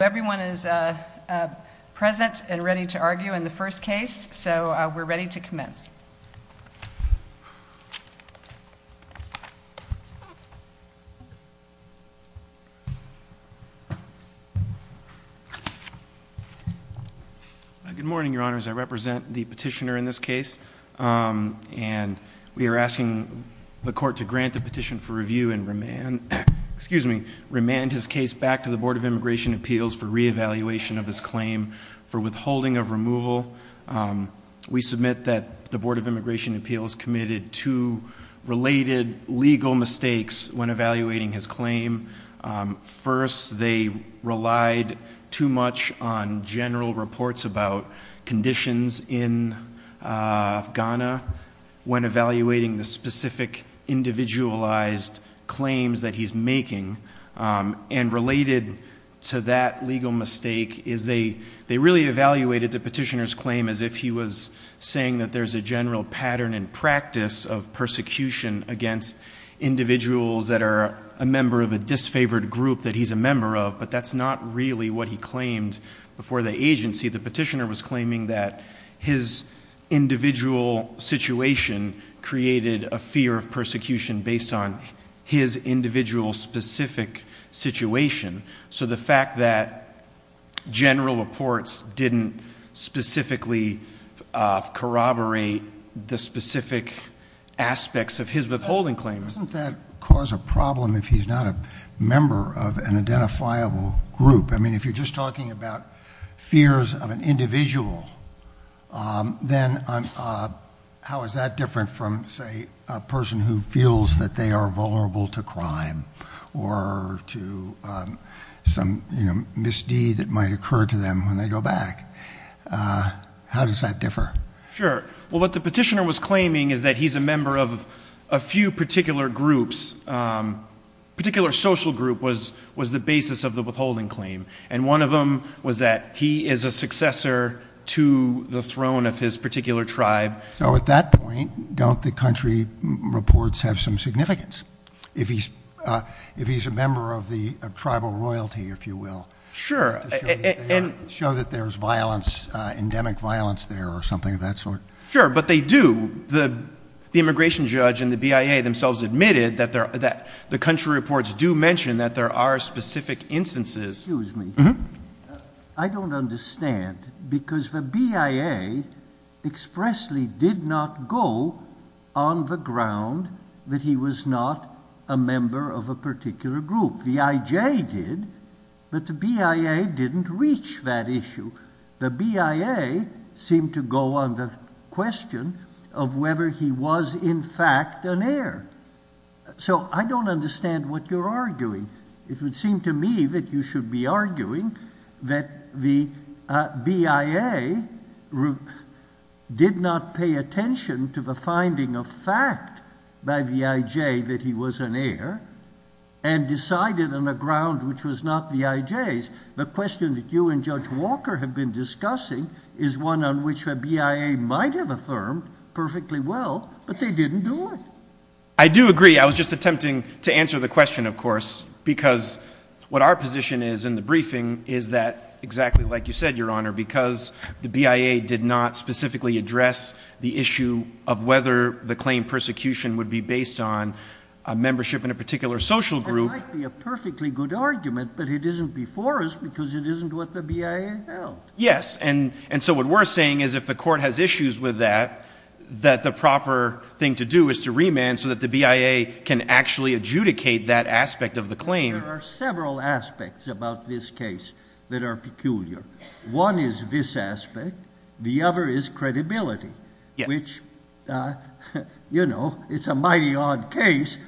Everyone is present and ready to argue in the first case, so we're ready to commence. Good morning, Your Honors. I represent the petitioner in this case. And we are asking the court to grant the petition for review and remand, excuse me, for reevaluation of his claim for withholding of removal. We submit that the Board of Immigration Appeals committed two related legal mistakes when evaluating his claim. First, they relied too much on general reports about conditions in Ghana when evaluating the specific individualized claims that he's making. And related to that legal mistake is they really evaluated the petitioner's claim as if he was saying that there's a general pattern and practice of persecution against individuals that are a member of a disfavored group that he's a member of, but that's not really what he claimed before the agency. The petitioner was claiming that his individual situation created a fear of persecution based on his individual specific situation. So the fact that general reports didn't specifically corroborate the specific aspects of his withholding claim. Doesn't that cause a problem if he's not a member of an identifiable group? I mean, if you're just talking about fears of an individual, then how is that different from, say, a person who feels that they are vulnerable to crime or to some misdeed that might occur to them when they go back? How does that differ? Sure. Well, what the petitioner was claiming is that he's a member of a few particular groups. A particular social group was the basis of the withholding claim, and one of them was that he is a successor to the throne of his particular tribe. So at that point, don't the country reports have some significance? If he's a member of tribal royalty, if you will, to show that there's violence, endemic violence there or something of that sort? Sure, but they do. The immigration judge and the BIA themselves admitted that the country reports do mention that there are specific instances. Excuse me. I don't understand because the BIA expressly did not go on the ground that he was not a member of a particular group. The IJ did, but the BIA didn't reach that issue. The BIA seemed to go on the question of whether he was in fact an heir. So I don't understand what you're arguing. It would seem to me that you should be arguing that the BIA did not pay attention to the finding of fact by the IJ that he was an heir and decided on a ground which was not the IJ's. The question that you and Judge Walker have been discussing is one on which the BIA might have affirmed perfectly well, but they didn't do it. I do agree. I was just attempting to answer the question, of course, because what our position is in the briefing is that, exactly like you said, Your Honor, because the BIA did not specifically address the issue of whether the claim persecution would be based on a membership in a particular social group. It might be a perfectly good argument, but it isn't before us because it isn't what the BIA held. Yes, and so what we're saying is if the court has issues with that, that the proper thing to do is to remand so that the BIA can actually adjudicate that aspect of the claim. There are several aspects about this case that are peculiar. One is this aspect. The other is credibility, which, you know, it's a mighty odd case.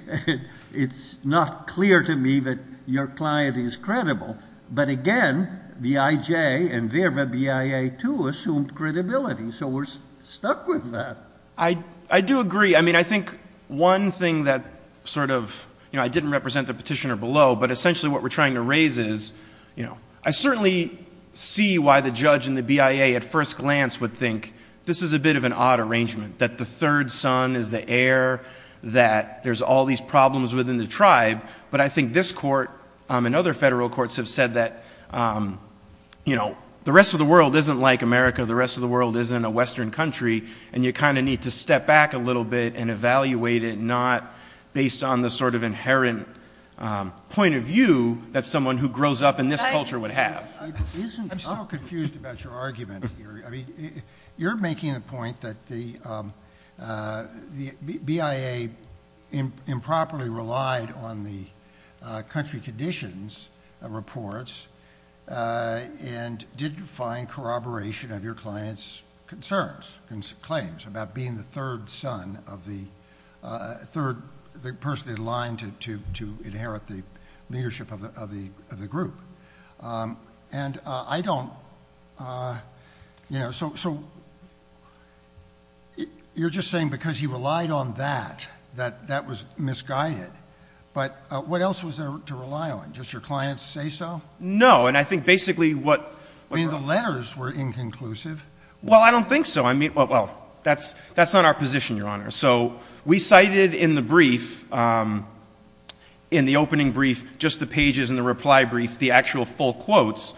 It's not clear to me that your client is credible. But, again, BIJ and their BIA, too, assumed credibility. So we're stuck with that. I do agree. I mean, I think one thing that sort of, you know, I didn't represent the petitioner below, but essentially what we're trying to raise is, you know, I certainly see why the judge and the BIA at first glance would think this is a bit of an odd arrangement, that the third son is the heir, that there's all these problems within the tribe. But I think this court and other federal courts have said that, you know, the rest of the world isn't like America, the rest of the world isn't a western country, and you kind of need to step back a little bit and evaluate it, not based on the sort of inherent point of view that someone who grows up in this culture would have. I'm still confused about your argument here. You're making the point that the BIA improperly relied on the country conditions reports and didn't find corroboration of your client's concerns, claims, about being the third son of the third person in line to inherit the leadership of the group. And I don't, you know, so you're just saying because he relied on that, that that was misguided. But what else was there to rely on? Just your client's say-so? No, and I think basically what... I mean, the letters were inconclusive. Well, I don't think so. I mean, well, that's not our position, Your Honor. So we cited in the brief, in the opening brief, just the pages in the reply brief, the actual full quotes,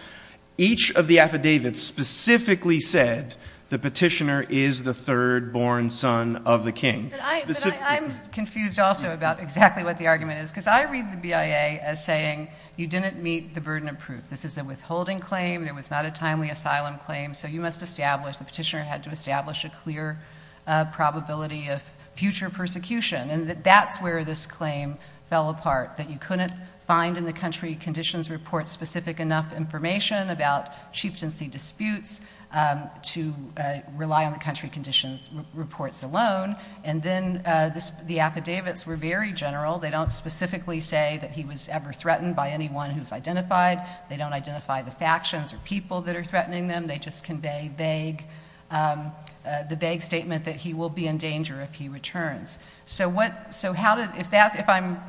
each of the affidavits specifically said the petitioner is the third-born son of the king. But I'm confused also about exactly what the argument is because I read the BIA as saying you didn't meet the burden of proof. This is a withholding claim. There was not a timely asylum claim. So you must establish, the petitioner had to establish a clear probability of future persecution. And that's where this claim fell apart, that you couldn't find in the country conditions report specific enough information about chieftaincy disputes to rely on the country conditions reports alone. And then the affidavits were very general. They don't specifically say that he was ever threatened by anyone who's identified. They don't identify the factions or people that are threatening them. They just convey vague, the vague statement that he will be in danger if he returns. So what, so how did, if that, if I'm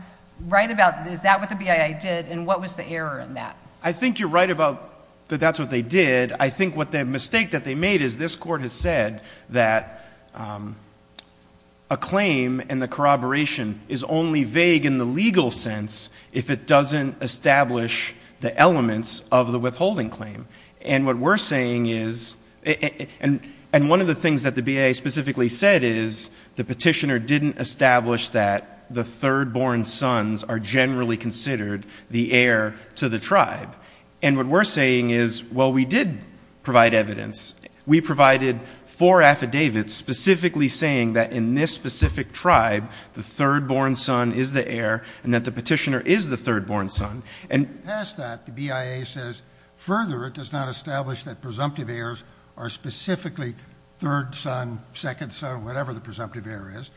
right about, is that what the BIA did and what was the error in that? I think you're right about that that's what they did. I think what the mistake that they made is this court has said that a claim and the corroboration is only vague in the legal sense if it doesn't establish the elements of the withholding claim. And what we're saying is, and one of the things that the BIA specifically said is, the petitioner didn't establish that the third born sons are generally considered the heir to the tribe. And what we're saying is, well, we did provide evidence. We provided four affidavits specifically saying that in this specific tribe, the third born son is the heir and that the petitioner is the third born son. And past that, the BIA says, further, it does not establish that presumptive heirs are specifically third son, second son, whatever the presumptive heir is.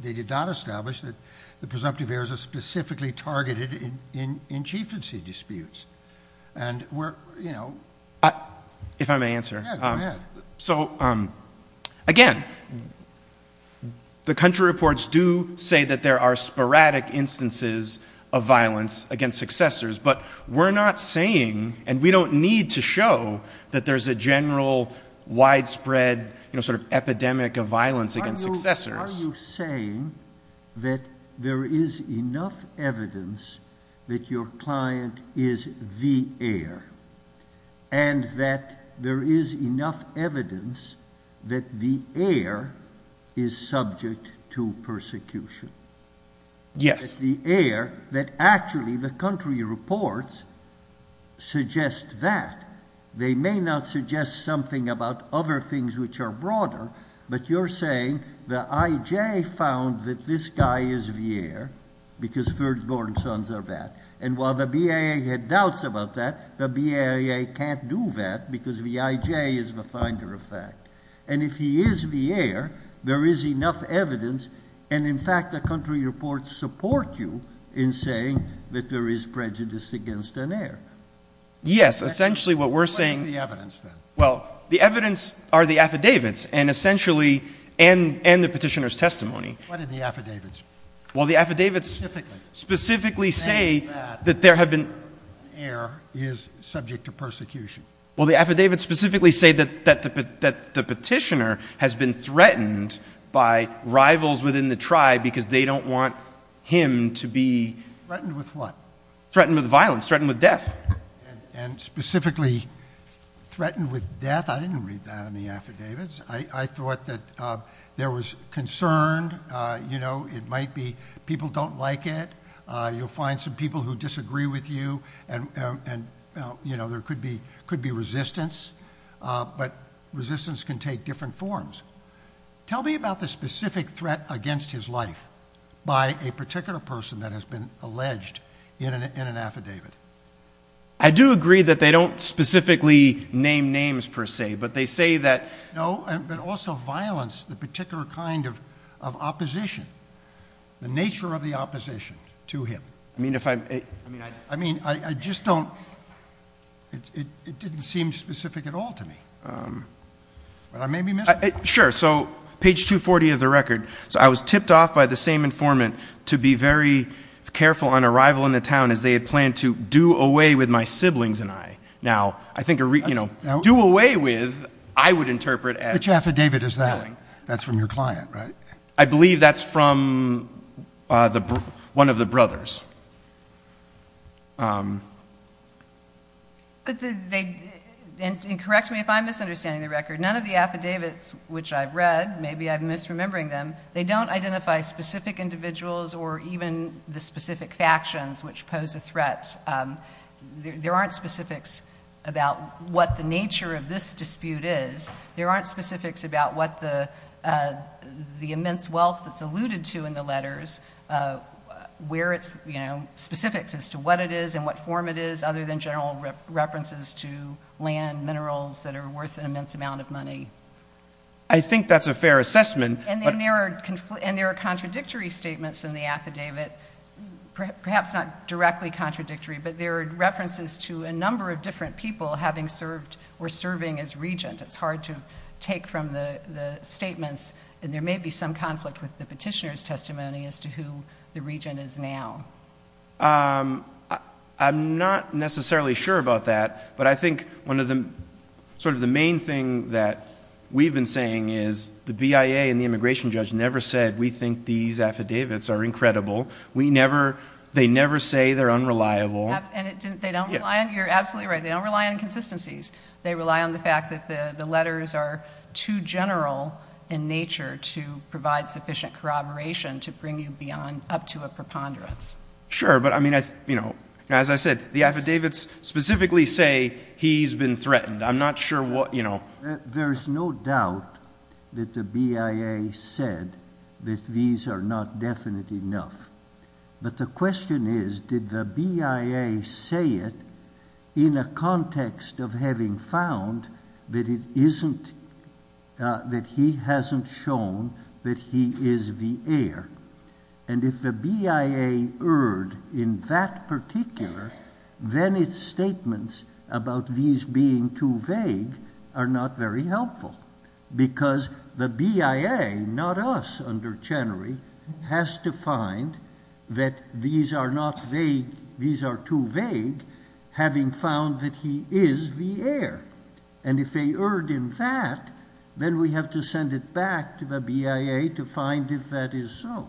They did not establish that the presumptive heirs are specifically targeted in chieftaincy disputes. And we're, you know. Yeah, go ahead. So, again, the country reports do say that there are sporadic instances of violence against successors, but we're not saying and we don't need to show that there's a general widespread, you know, sort of epidemic of violence against successors. Are you saying that there is enough evidence that your client is the heir and that there is enough evidence that the heir is subject to persecution? Yes. The heir that actually the country reports suggest that. They may not suggest something about other things which are broader, but you're saying the IJ found that this guy is the heir because third born sons are that. And while the BIA had doubts about that, the BIA can't do that because the IJ is the finder of fact. And if he is the heir, there is enough evidence. And, in fact, the country reports support you in saying that there is prejudice against an heir. Yes, essentially what we're saying. What is the evidence then? Well, the evidence are the affidavits and essentially and the petitioner's testimony. What are the affidavits? Well, the affidavits specifically say that there have been... That the heir is subject to persecution. Well, the affidavits specifically say that the petitioner has been threatened by rivals within the tribe because they don't want him to be... Threatened with what? Threatened with violence, threatened with death. And specifically threatened with death. I didn't read that in the affidavits. I thought that there was concern. You know, it might be people don't like it. You'll find some people who disagree with you. And, you know, there could be resistance. But resistance can take different forms. Tell me about the specific threat against his life by a particular person that has been alleged in an affidavit. I do agree that they don't specifically name names per se, but they say that... No, but also violence, the particular kind of opposition, the nature of the opposition to him. I mean, if I'm... I mean, I just don't... It didn't seem specific at all to me. But I may be mistaken. Sure, so page 240 of the record. So I was tipped off by the same informant to be very careful on arrival in the town as they had planned to do away with my siblings and I. Now, I think a... Do away with, I would interpret as... Which affidavit is that? That's from your client, right? I believe that's from one of the brothers. But they... And correct me if I'm misunderstanding the record. None of the affidavits which I've read, maybe I'm misremembering them, they don't identify specific individuals or even the specific factions which pose a threat. There aren't specifics about what the nature of this dispute is. There aren't specifics about what the immense wealth that's alluded to in the letters, where it's, you know, specifics as to what it is and what form it is other than general references to land, minerals that are worth an immense amount of money. I think that's a fair assessment. And there are contradictory statements in the affidavit, perhaps not directly contradictory, but there are references to a number of different people having served or serving as regent. It's hard to take from the statements. And there may be some conflict with the petitioner's testimony as to who the regent is now. I'm not necessarily sure about that, but I think sort of the main thing that we've been saying is the BIA and the immigration judge never said we think these affidavits are incredible. They never say they're unreliable. And they don't rely on... You're absolutely right. They don't rely on consistencies. They rely on the fact that the letters are too general in nature to provide sufficient corroboration to bring you up to a preponderance. Sure, but, I mean, as I said, the affidavits specifically say he's been threatened. I'm not sure what, you know... There's no doubt that the BIA said that these are not definite enough. But the question is, did the BIA say it in a context of having found that it isn't... that he hasn't shown that he is the heir? And if the BIA erred in that particular, then its statements about these being too vague are not very helpful because the BIA, not us under Chenery, has to find that these are not vague. These are too vague, having found that he is the heir. And if they erred in that, then we have to send it back to the BIA to find if that is so.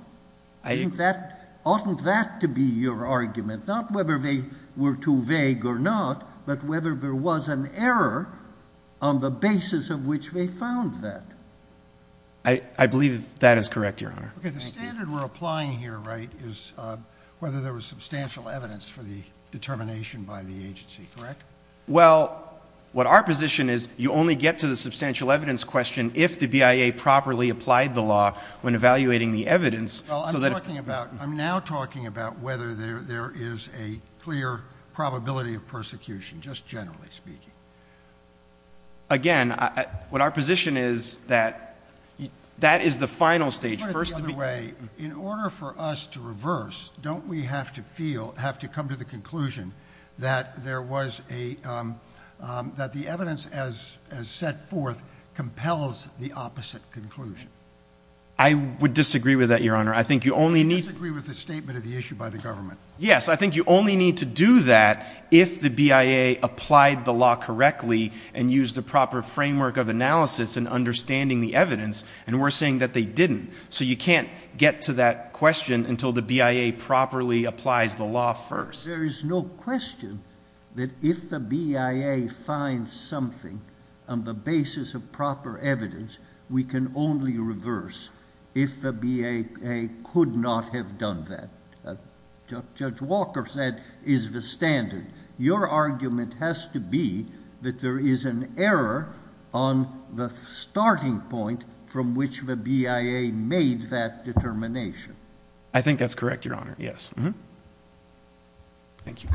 I think that... Oughtn't that to be your argument? Not whether they were too vague or not, but whether there was an error on the basis of which they found that. I believe that is correct, Your Honor. Okay, the standard we're applying here, right, is whether there was substantial evidence for the determination by the agency, correct? Well, what our position is, you only get to the substantial evidence question if the BIA properly applied the law when evaluating the evidence. I'm now talking about whether there is a clear probability of persecution, just generally speaking. Again, what our position is that that is the final stage. In order for us to reverse, don't we have to come to the conclusion that the evidence as set forth compels the opposite conclusion? I would disagree with that, Your Honor. I think you only need... You disagree with the statement of the issue by the government? Yes, I think you only need to do that if the BIA applied the law correctly and used the proper framework of analysis in understanding the evidence, and we're saying that they didn't. So you can't get to that question until the BIA properly applies the law first. There is no question that if the BIA finds something on the basis of proper evidence, we can only reverse if the BIA could not have done that. Judge Walker said, is the standard. Your argument has to be that there is an error on the starting point from which the BIA made that determination. I think that's correct, Your Honor, yes. Thank you.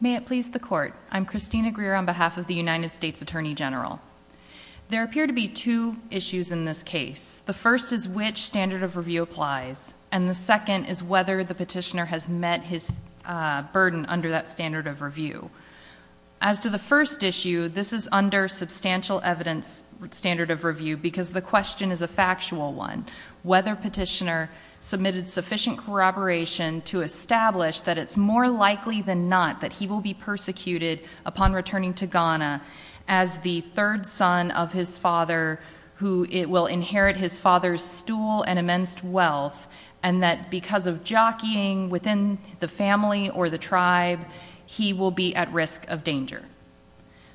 May it please the Court. I'm Christina Greer on behalf of the United States Attorney General. There appear to be two issues in this case. The first is which standard of review applies, and the second is whether the petitioner has met his burden under that standard of review. As to the first issue, this is under substantial evidence standard of review because the question is a factual one. Whether petitioner submitted sufficient corroboration to establish that it's more likely than not that he will be persecuted upon returning to Ghana as the third son of his father who will inherit his father's stool and immense wealth, and that because of jockeying within the family or the tribe, he will be at risk of danger.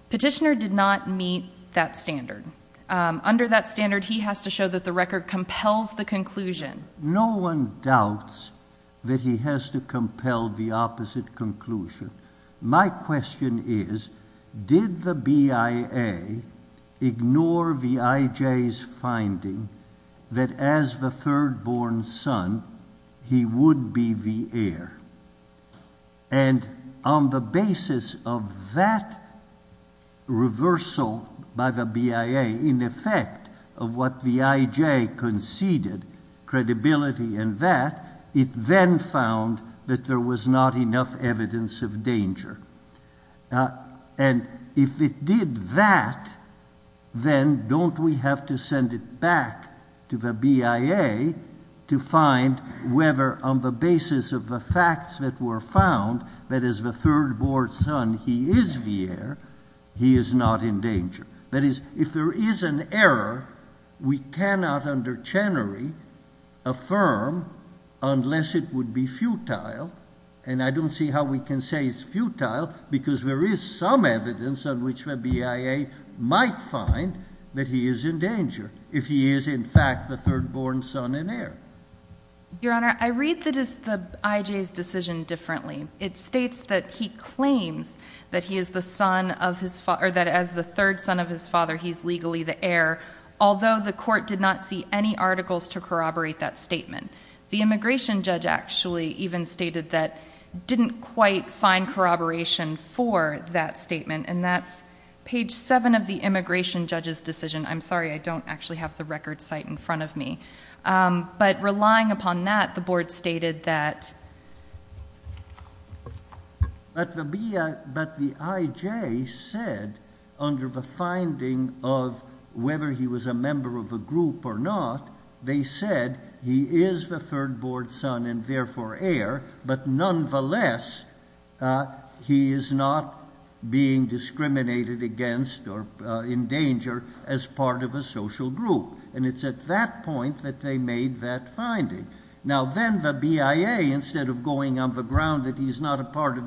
Petitioner did not meet that standard. Under that standard, he has to show that the record compels the conclusion. No one doubts that he has to compel the opposite conclusion. My question is, did the BIA ignore the IJ's finding that as the third-born son, he would be the heir? And on the basis of that reversal by the BIA in effect of what the IJ conceded, credibility and that, it then found that there was not enough evidence of danger. And if it did that, then don't we have to send it back to the BIA to find whether on the basis of the facts that were found that as the third-born son, he is the heir, he is not in danger. That is, if there is an error, we cannot under Chenery affirm unless it would be futile. And I don't see how we can say it's futile because there is some evidence on which the BIA might find that he is in danger if he is in fact the third-born son and heir. Your Honor, I read the IJ's decision differently. It states that he claims that as the third son of his father, he is legally the heir, although the court did not see any articles to corroborate that statement. The immigration judge actually even stated that didn't quite find corroboration for that statement, and that's page 7 of the immigration judge's decision. I'm sorry, I don't actually have the record site in front of me. But relying upon that, the board stated that. But the IJ said under the finding of whether he was a member of a group or not, they said he is the third-born son and therefore heir, but nonetheless, he is not being discriminated against or in danger as part of a social group. And it's at that point that they made that finding. Now then the BIA, instead of going on the ground that he's not a part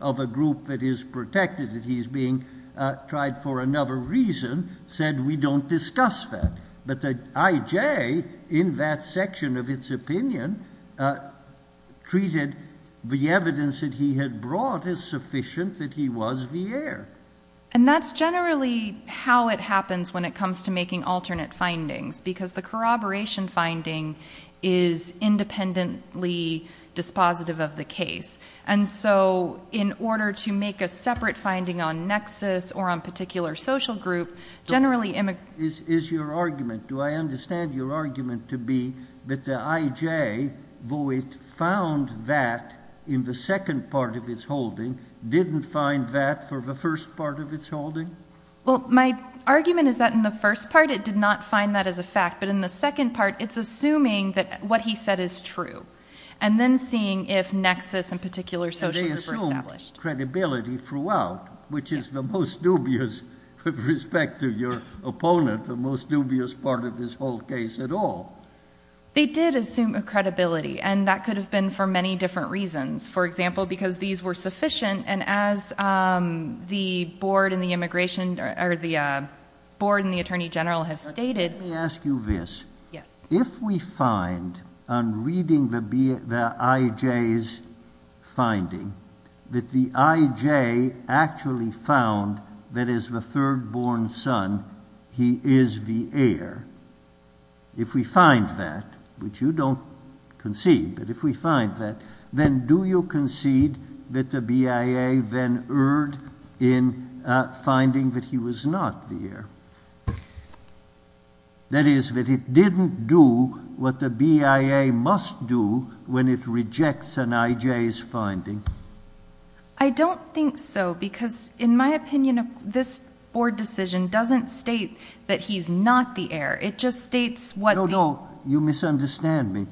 of a group that is protected, that he's being tried for another reason, said we don't discuss that. But the IJ, in that section of its opinion, treated the evidence that he had brought as sufficient that he was the heir. And that's generally how it happens when it comes to making alternate findings, because the corroboration finding is independently dispositive of the case. And so in order to make a separate finding on nexus or on particular social group, generally immigrants Is your argument, do I understand your argument to be that the IJ, though it found that in the second part of its holding, didn't find that for the first part of its holding? Well, my argument is that in the first part, it did not find that as a fact. But in the second part, it's assuming that what he said is true. And then seeing if nexus and particular social group are established. And they assumed credibility throughout, which is the most dubious with respect to your opponent, the most dubious part of this whole case at all. They did assume credibility. And that could have been for many different reasons. For example, because these were sufficient. And as the board and the immigration or the board and the attorney general have stated. Let me ask you this. Yes. If we find on reading the IJ's finding that the IJ actually found that as the third born son, he is the heir. If we find that, which you don't concede. But if we find that, then do you concede that the BIA then erred in finding that he was not the heir? That is, that it didn't do what the BIA must do when it rejects an IJ's finding. I don't think so. Because in my opinion, this board decision doesn't state that he's not the heir. It just states what. No, no. You misunderstand me.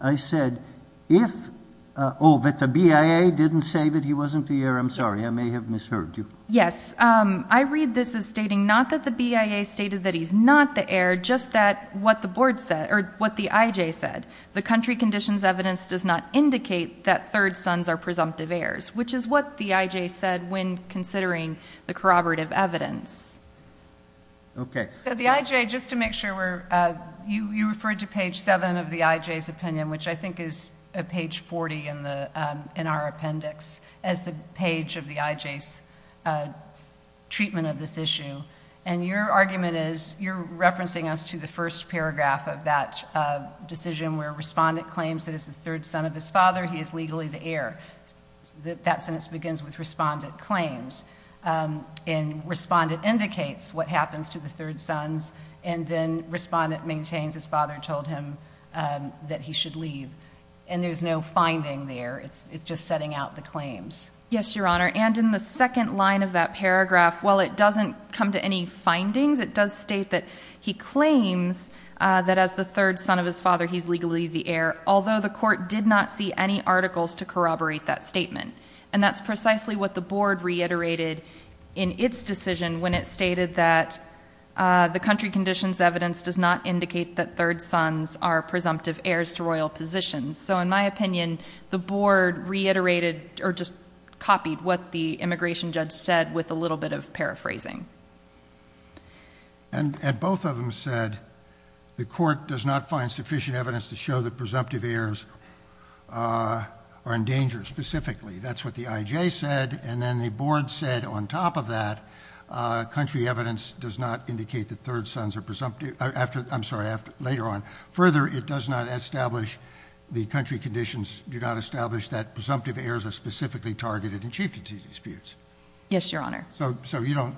I said if, oh, that the BIA didn't say that he wasn't the heir. I'm sorry. I may have misheard you. Yes. I read this as stating not that the BIA stated that he's not the heir, just that what the board said or what the IJ said. The country conditions evidence does not indicate that third sons are presumptive heirs, which is what the IJ said when considering the corroborative evidence. Okay. The IJ, just to make sure, you referred to page 7 of the IJ's opinion, which I think is page 40 in our appendix as the page of the IJ's treatment of this issue. And your argument is you're referencing us to the first paragraph of that decision where respondent claims that as the third son of his father, he is legally the heir. That sentence begins with respondent claims. And respondent indicates what happens to the third sons, and then respondent maintains his father told him that he should leave. And there's no finding there. It's just setting out the claims. Yes, Your Honor. And in the second line of that paragraph, while it doesn't come to any findings, it does state that he claims that as the third son of his father, he's legally the heir, although the court did not see any articles to corroborate that statement. And that's precisely what the board reiterated in its decision when it stated that the country conditions evidence does not indicate that third sons are presumptive heirs to royal positions. So in my opinion, the board reiterated or just copied what the immigration judge said with a little bit of paraphrasing. And both of them said the court does not find sufficient evidence to show that presumptive heirs are in danger, specifically. That's what the IJ said. And then the board said on top of that, country evidence does not indicate that third sons are presumptive. I'm sorry, later on. Further, it does not establish, the country conditions do not establish that presumptive heirs are specifically targeted in chieftain disputes. Yes, Your Honor. So you don't,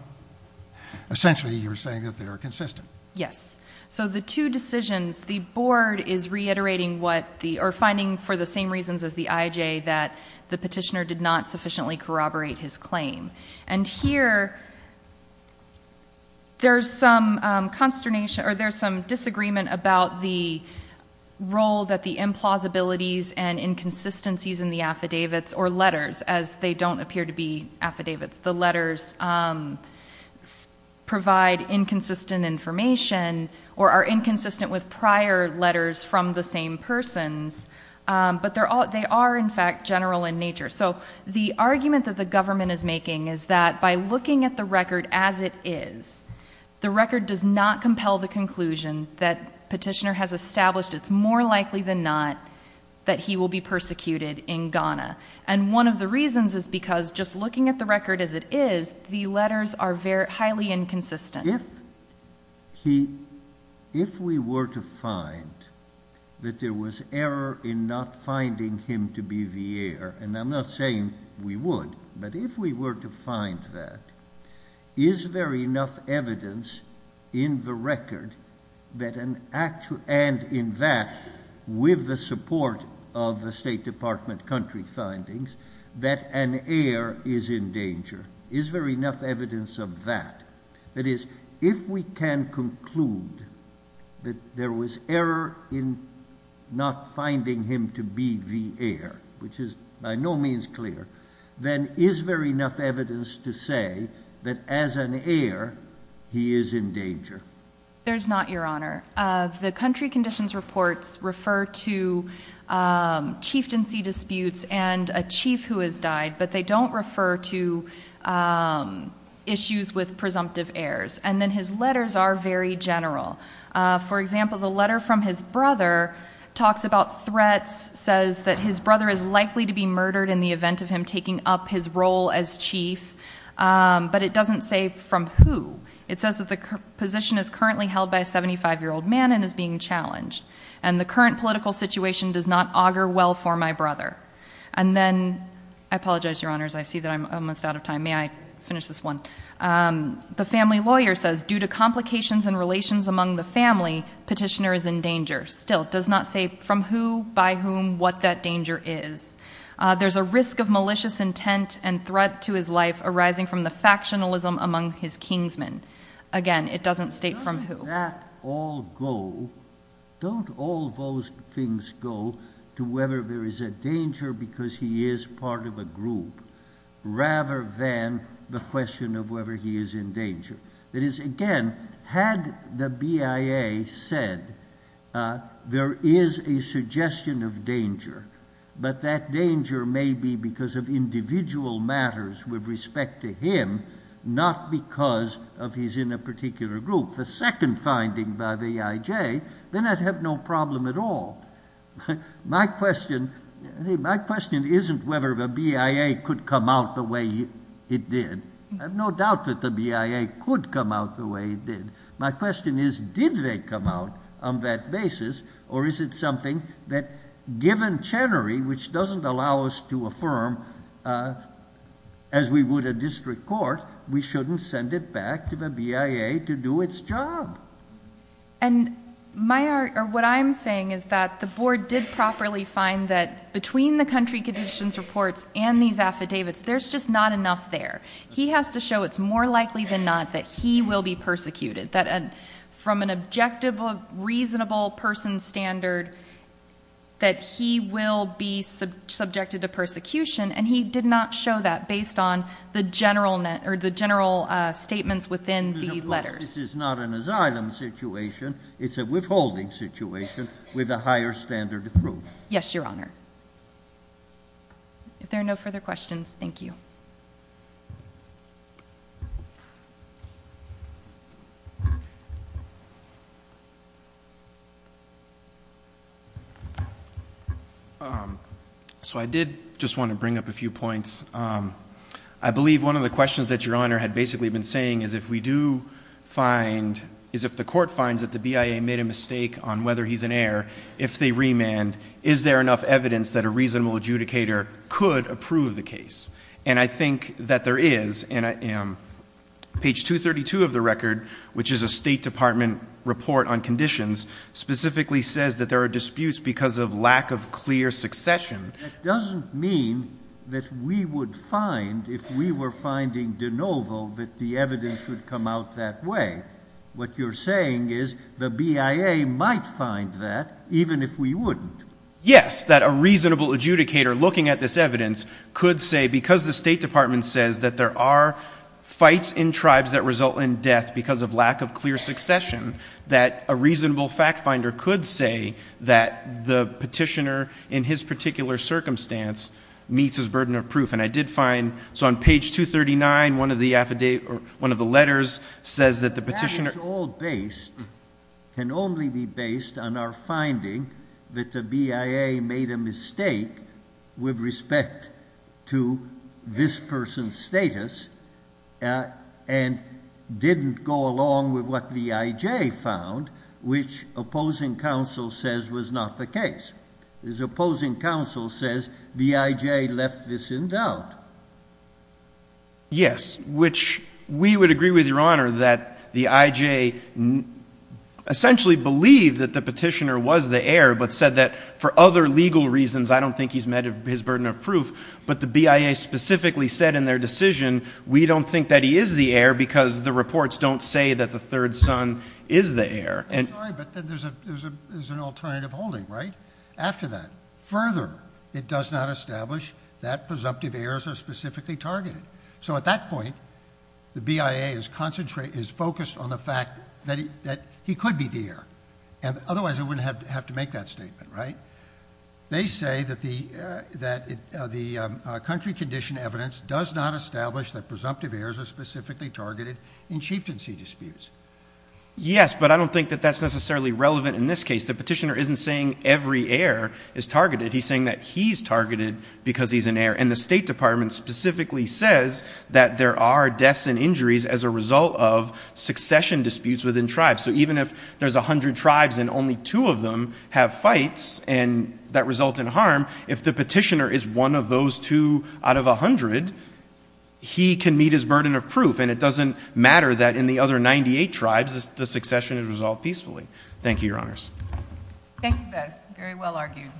essentially you're saying that they are consistent. Yes. So the two decisions, the board is reiterating what the, or finding for the same reasons as the IJ, that the petitioner did not sufficiently corroborate his claim. And here, there's some consternation, or there's some disagreement about the role that the implausibilities and inconsistencies in the affidavits or letters, as they don't appear to be affidavits. The letters provide inconsistent information or are inconsistent with prior letters from the same persons. But they are, in fact, general in nature. So the argument that the government is making is that by looking at the record as it is, the record does not compel the conclusion that petitioner has established it's more likely than not that he will be persecuted in Ghana. And one of the reasons is because just looking at the record as it is, the letters are highly inconsistent. If he, if we were to find that there was error in not finding him to be the heir, and I'm not saying we would, but if we were to find that, is there enough evidence in the record that an actual, and in that, with the support of the State Department country findings, that an heir is in danger? Is there enough evidence of that? That is, if we can conclude that there was error in not finding him to be the heir, which is by no means clear, then is there enough evidence to say that as an heir, he is in danger? There's not, Your Honor. The country conditions reports refer to chieftaincy disputes and a chief who has died, but they don't refer to issues with presumptive heirs. And then his letters are very general. For example, the letter from his brother talks about threats, says that his brother is likely to be murdered in the event of him taking up his role as chief. But it doesn't say from who. It says that the position is currently held by a 75-year-old man and is being challenged. And the current political situation does not augur well for my brother. And then, I apologize, Your Honors, I see that I'm almost out of time. May I finish this one? The family lawyer says, due to complications and relations among the family, petitioner is in danger. Still, does not say from who, by whom, what that danger is. There's a risk of malicious intent and threat to his life arising from the factionalism among his kingsmen. Again, it doesn't state from who. Doesn't that all go, don't all those things go to whether there is a danger because he is part of a group rather than the question of whether he is in danger? That is, again, had the BIA said there is a suggestion of danger, but that danger may be because of individual matters with respect to him, not because of he's in a particular group. The second finding by the AIJ, then I'd have no problem at all. My question isn't whether the BIA could come out the way it did. I have no doubt that the BIA could come out the way it did. My question is, did they come out on that basis, or is it something that, given Chenery, which doesn't allow us to affirm, as we would a district court, we shouldn't send it back to the BIA to do its job? And what I'm saying is that the board did properly find that between the country conditions reports and these affidavits, there's just not enough there. He has to show it's more likely than not that he will be persecuted, that from an objective, reasonable person standard, that he will be subjected to persecution, and he did not show that based on the general statements within the letters. So this is not an asylum situation. It's a withholding situation with a higher standard of proof. Yes, Your Honor. If there are no further questions, thank you. So I did just want to bring up a few points. I believe one of the questions that Your Honor had basically been saying is if we do find, is if the court finds that the BIA made a mistake on whether he's an heir, if they remand, is there enough evidence that a reasonable adjudicator could approve the case? And I think that there is, and page 232 of the record, which is a State Department report on conditions, specifically says that there are disputes because of lack of clear succession. That doesn't mean that we would find, if we were finding de novo, that the evidence would come out that way. What you're saying is the BIA might find that, even if we wouldn't. Yes, that a reasonable adjudicator looking at this evidence could say, because the State Department says that there are fights in tribes that result in death because of lack of clear succession, that a reasonable fact finder could say that the petitioner, in his particular circumstance, meets his burden of proof. And I did find, so on page 239, one of the letters says that the petitioner... Yes, which we would agree with Your Honor that the IJ essentially believed that the petitioner was the heir, but said that for other legal reasons, I don't think he's met his burden of proof. But the BIA specifically said in their decision, we don't think that he is the heir because the reports don't say that the third son is the heir. I'm sorry, but then there's an alternative holding, right? After that, further, it does not establish that presumptive heirs are specifically targeted. So at that point, the BIA is focused on the fact that he could be the heir. Otherwise, it wouldn't have to make that statement, right? They say that the country condition evidence does not establish that presumptive heirs are specifically targeted in chieftaincy disputes. Yes, but I don't think that that's necessarily relevant in this case. The petitioner isn't saying every heir is targeted. He's saying that he's targeted because he's an heir. And the State Department specifically says that there are deaths and injuries as a result of succession disputes within tribes. So even if there's a hundred tribes and only two of them have fights that result in harm, if the petitioner is one of those two out of a hundred, he can meet his burden of proof. And it doesn't matter that in the other 98 tribes, the succession is resolved peacefully. Thank you, Your Honors. Thank you, Bex. Very well argued.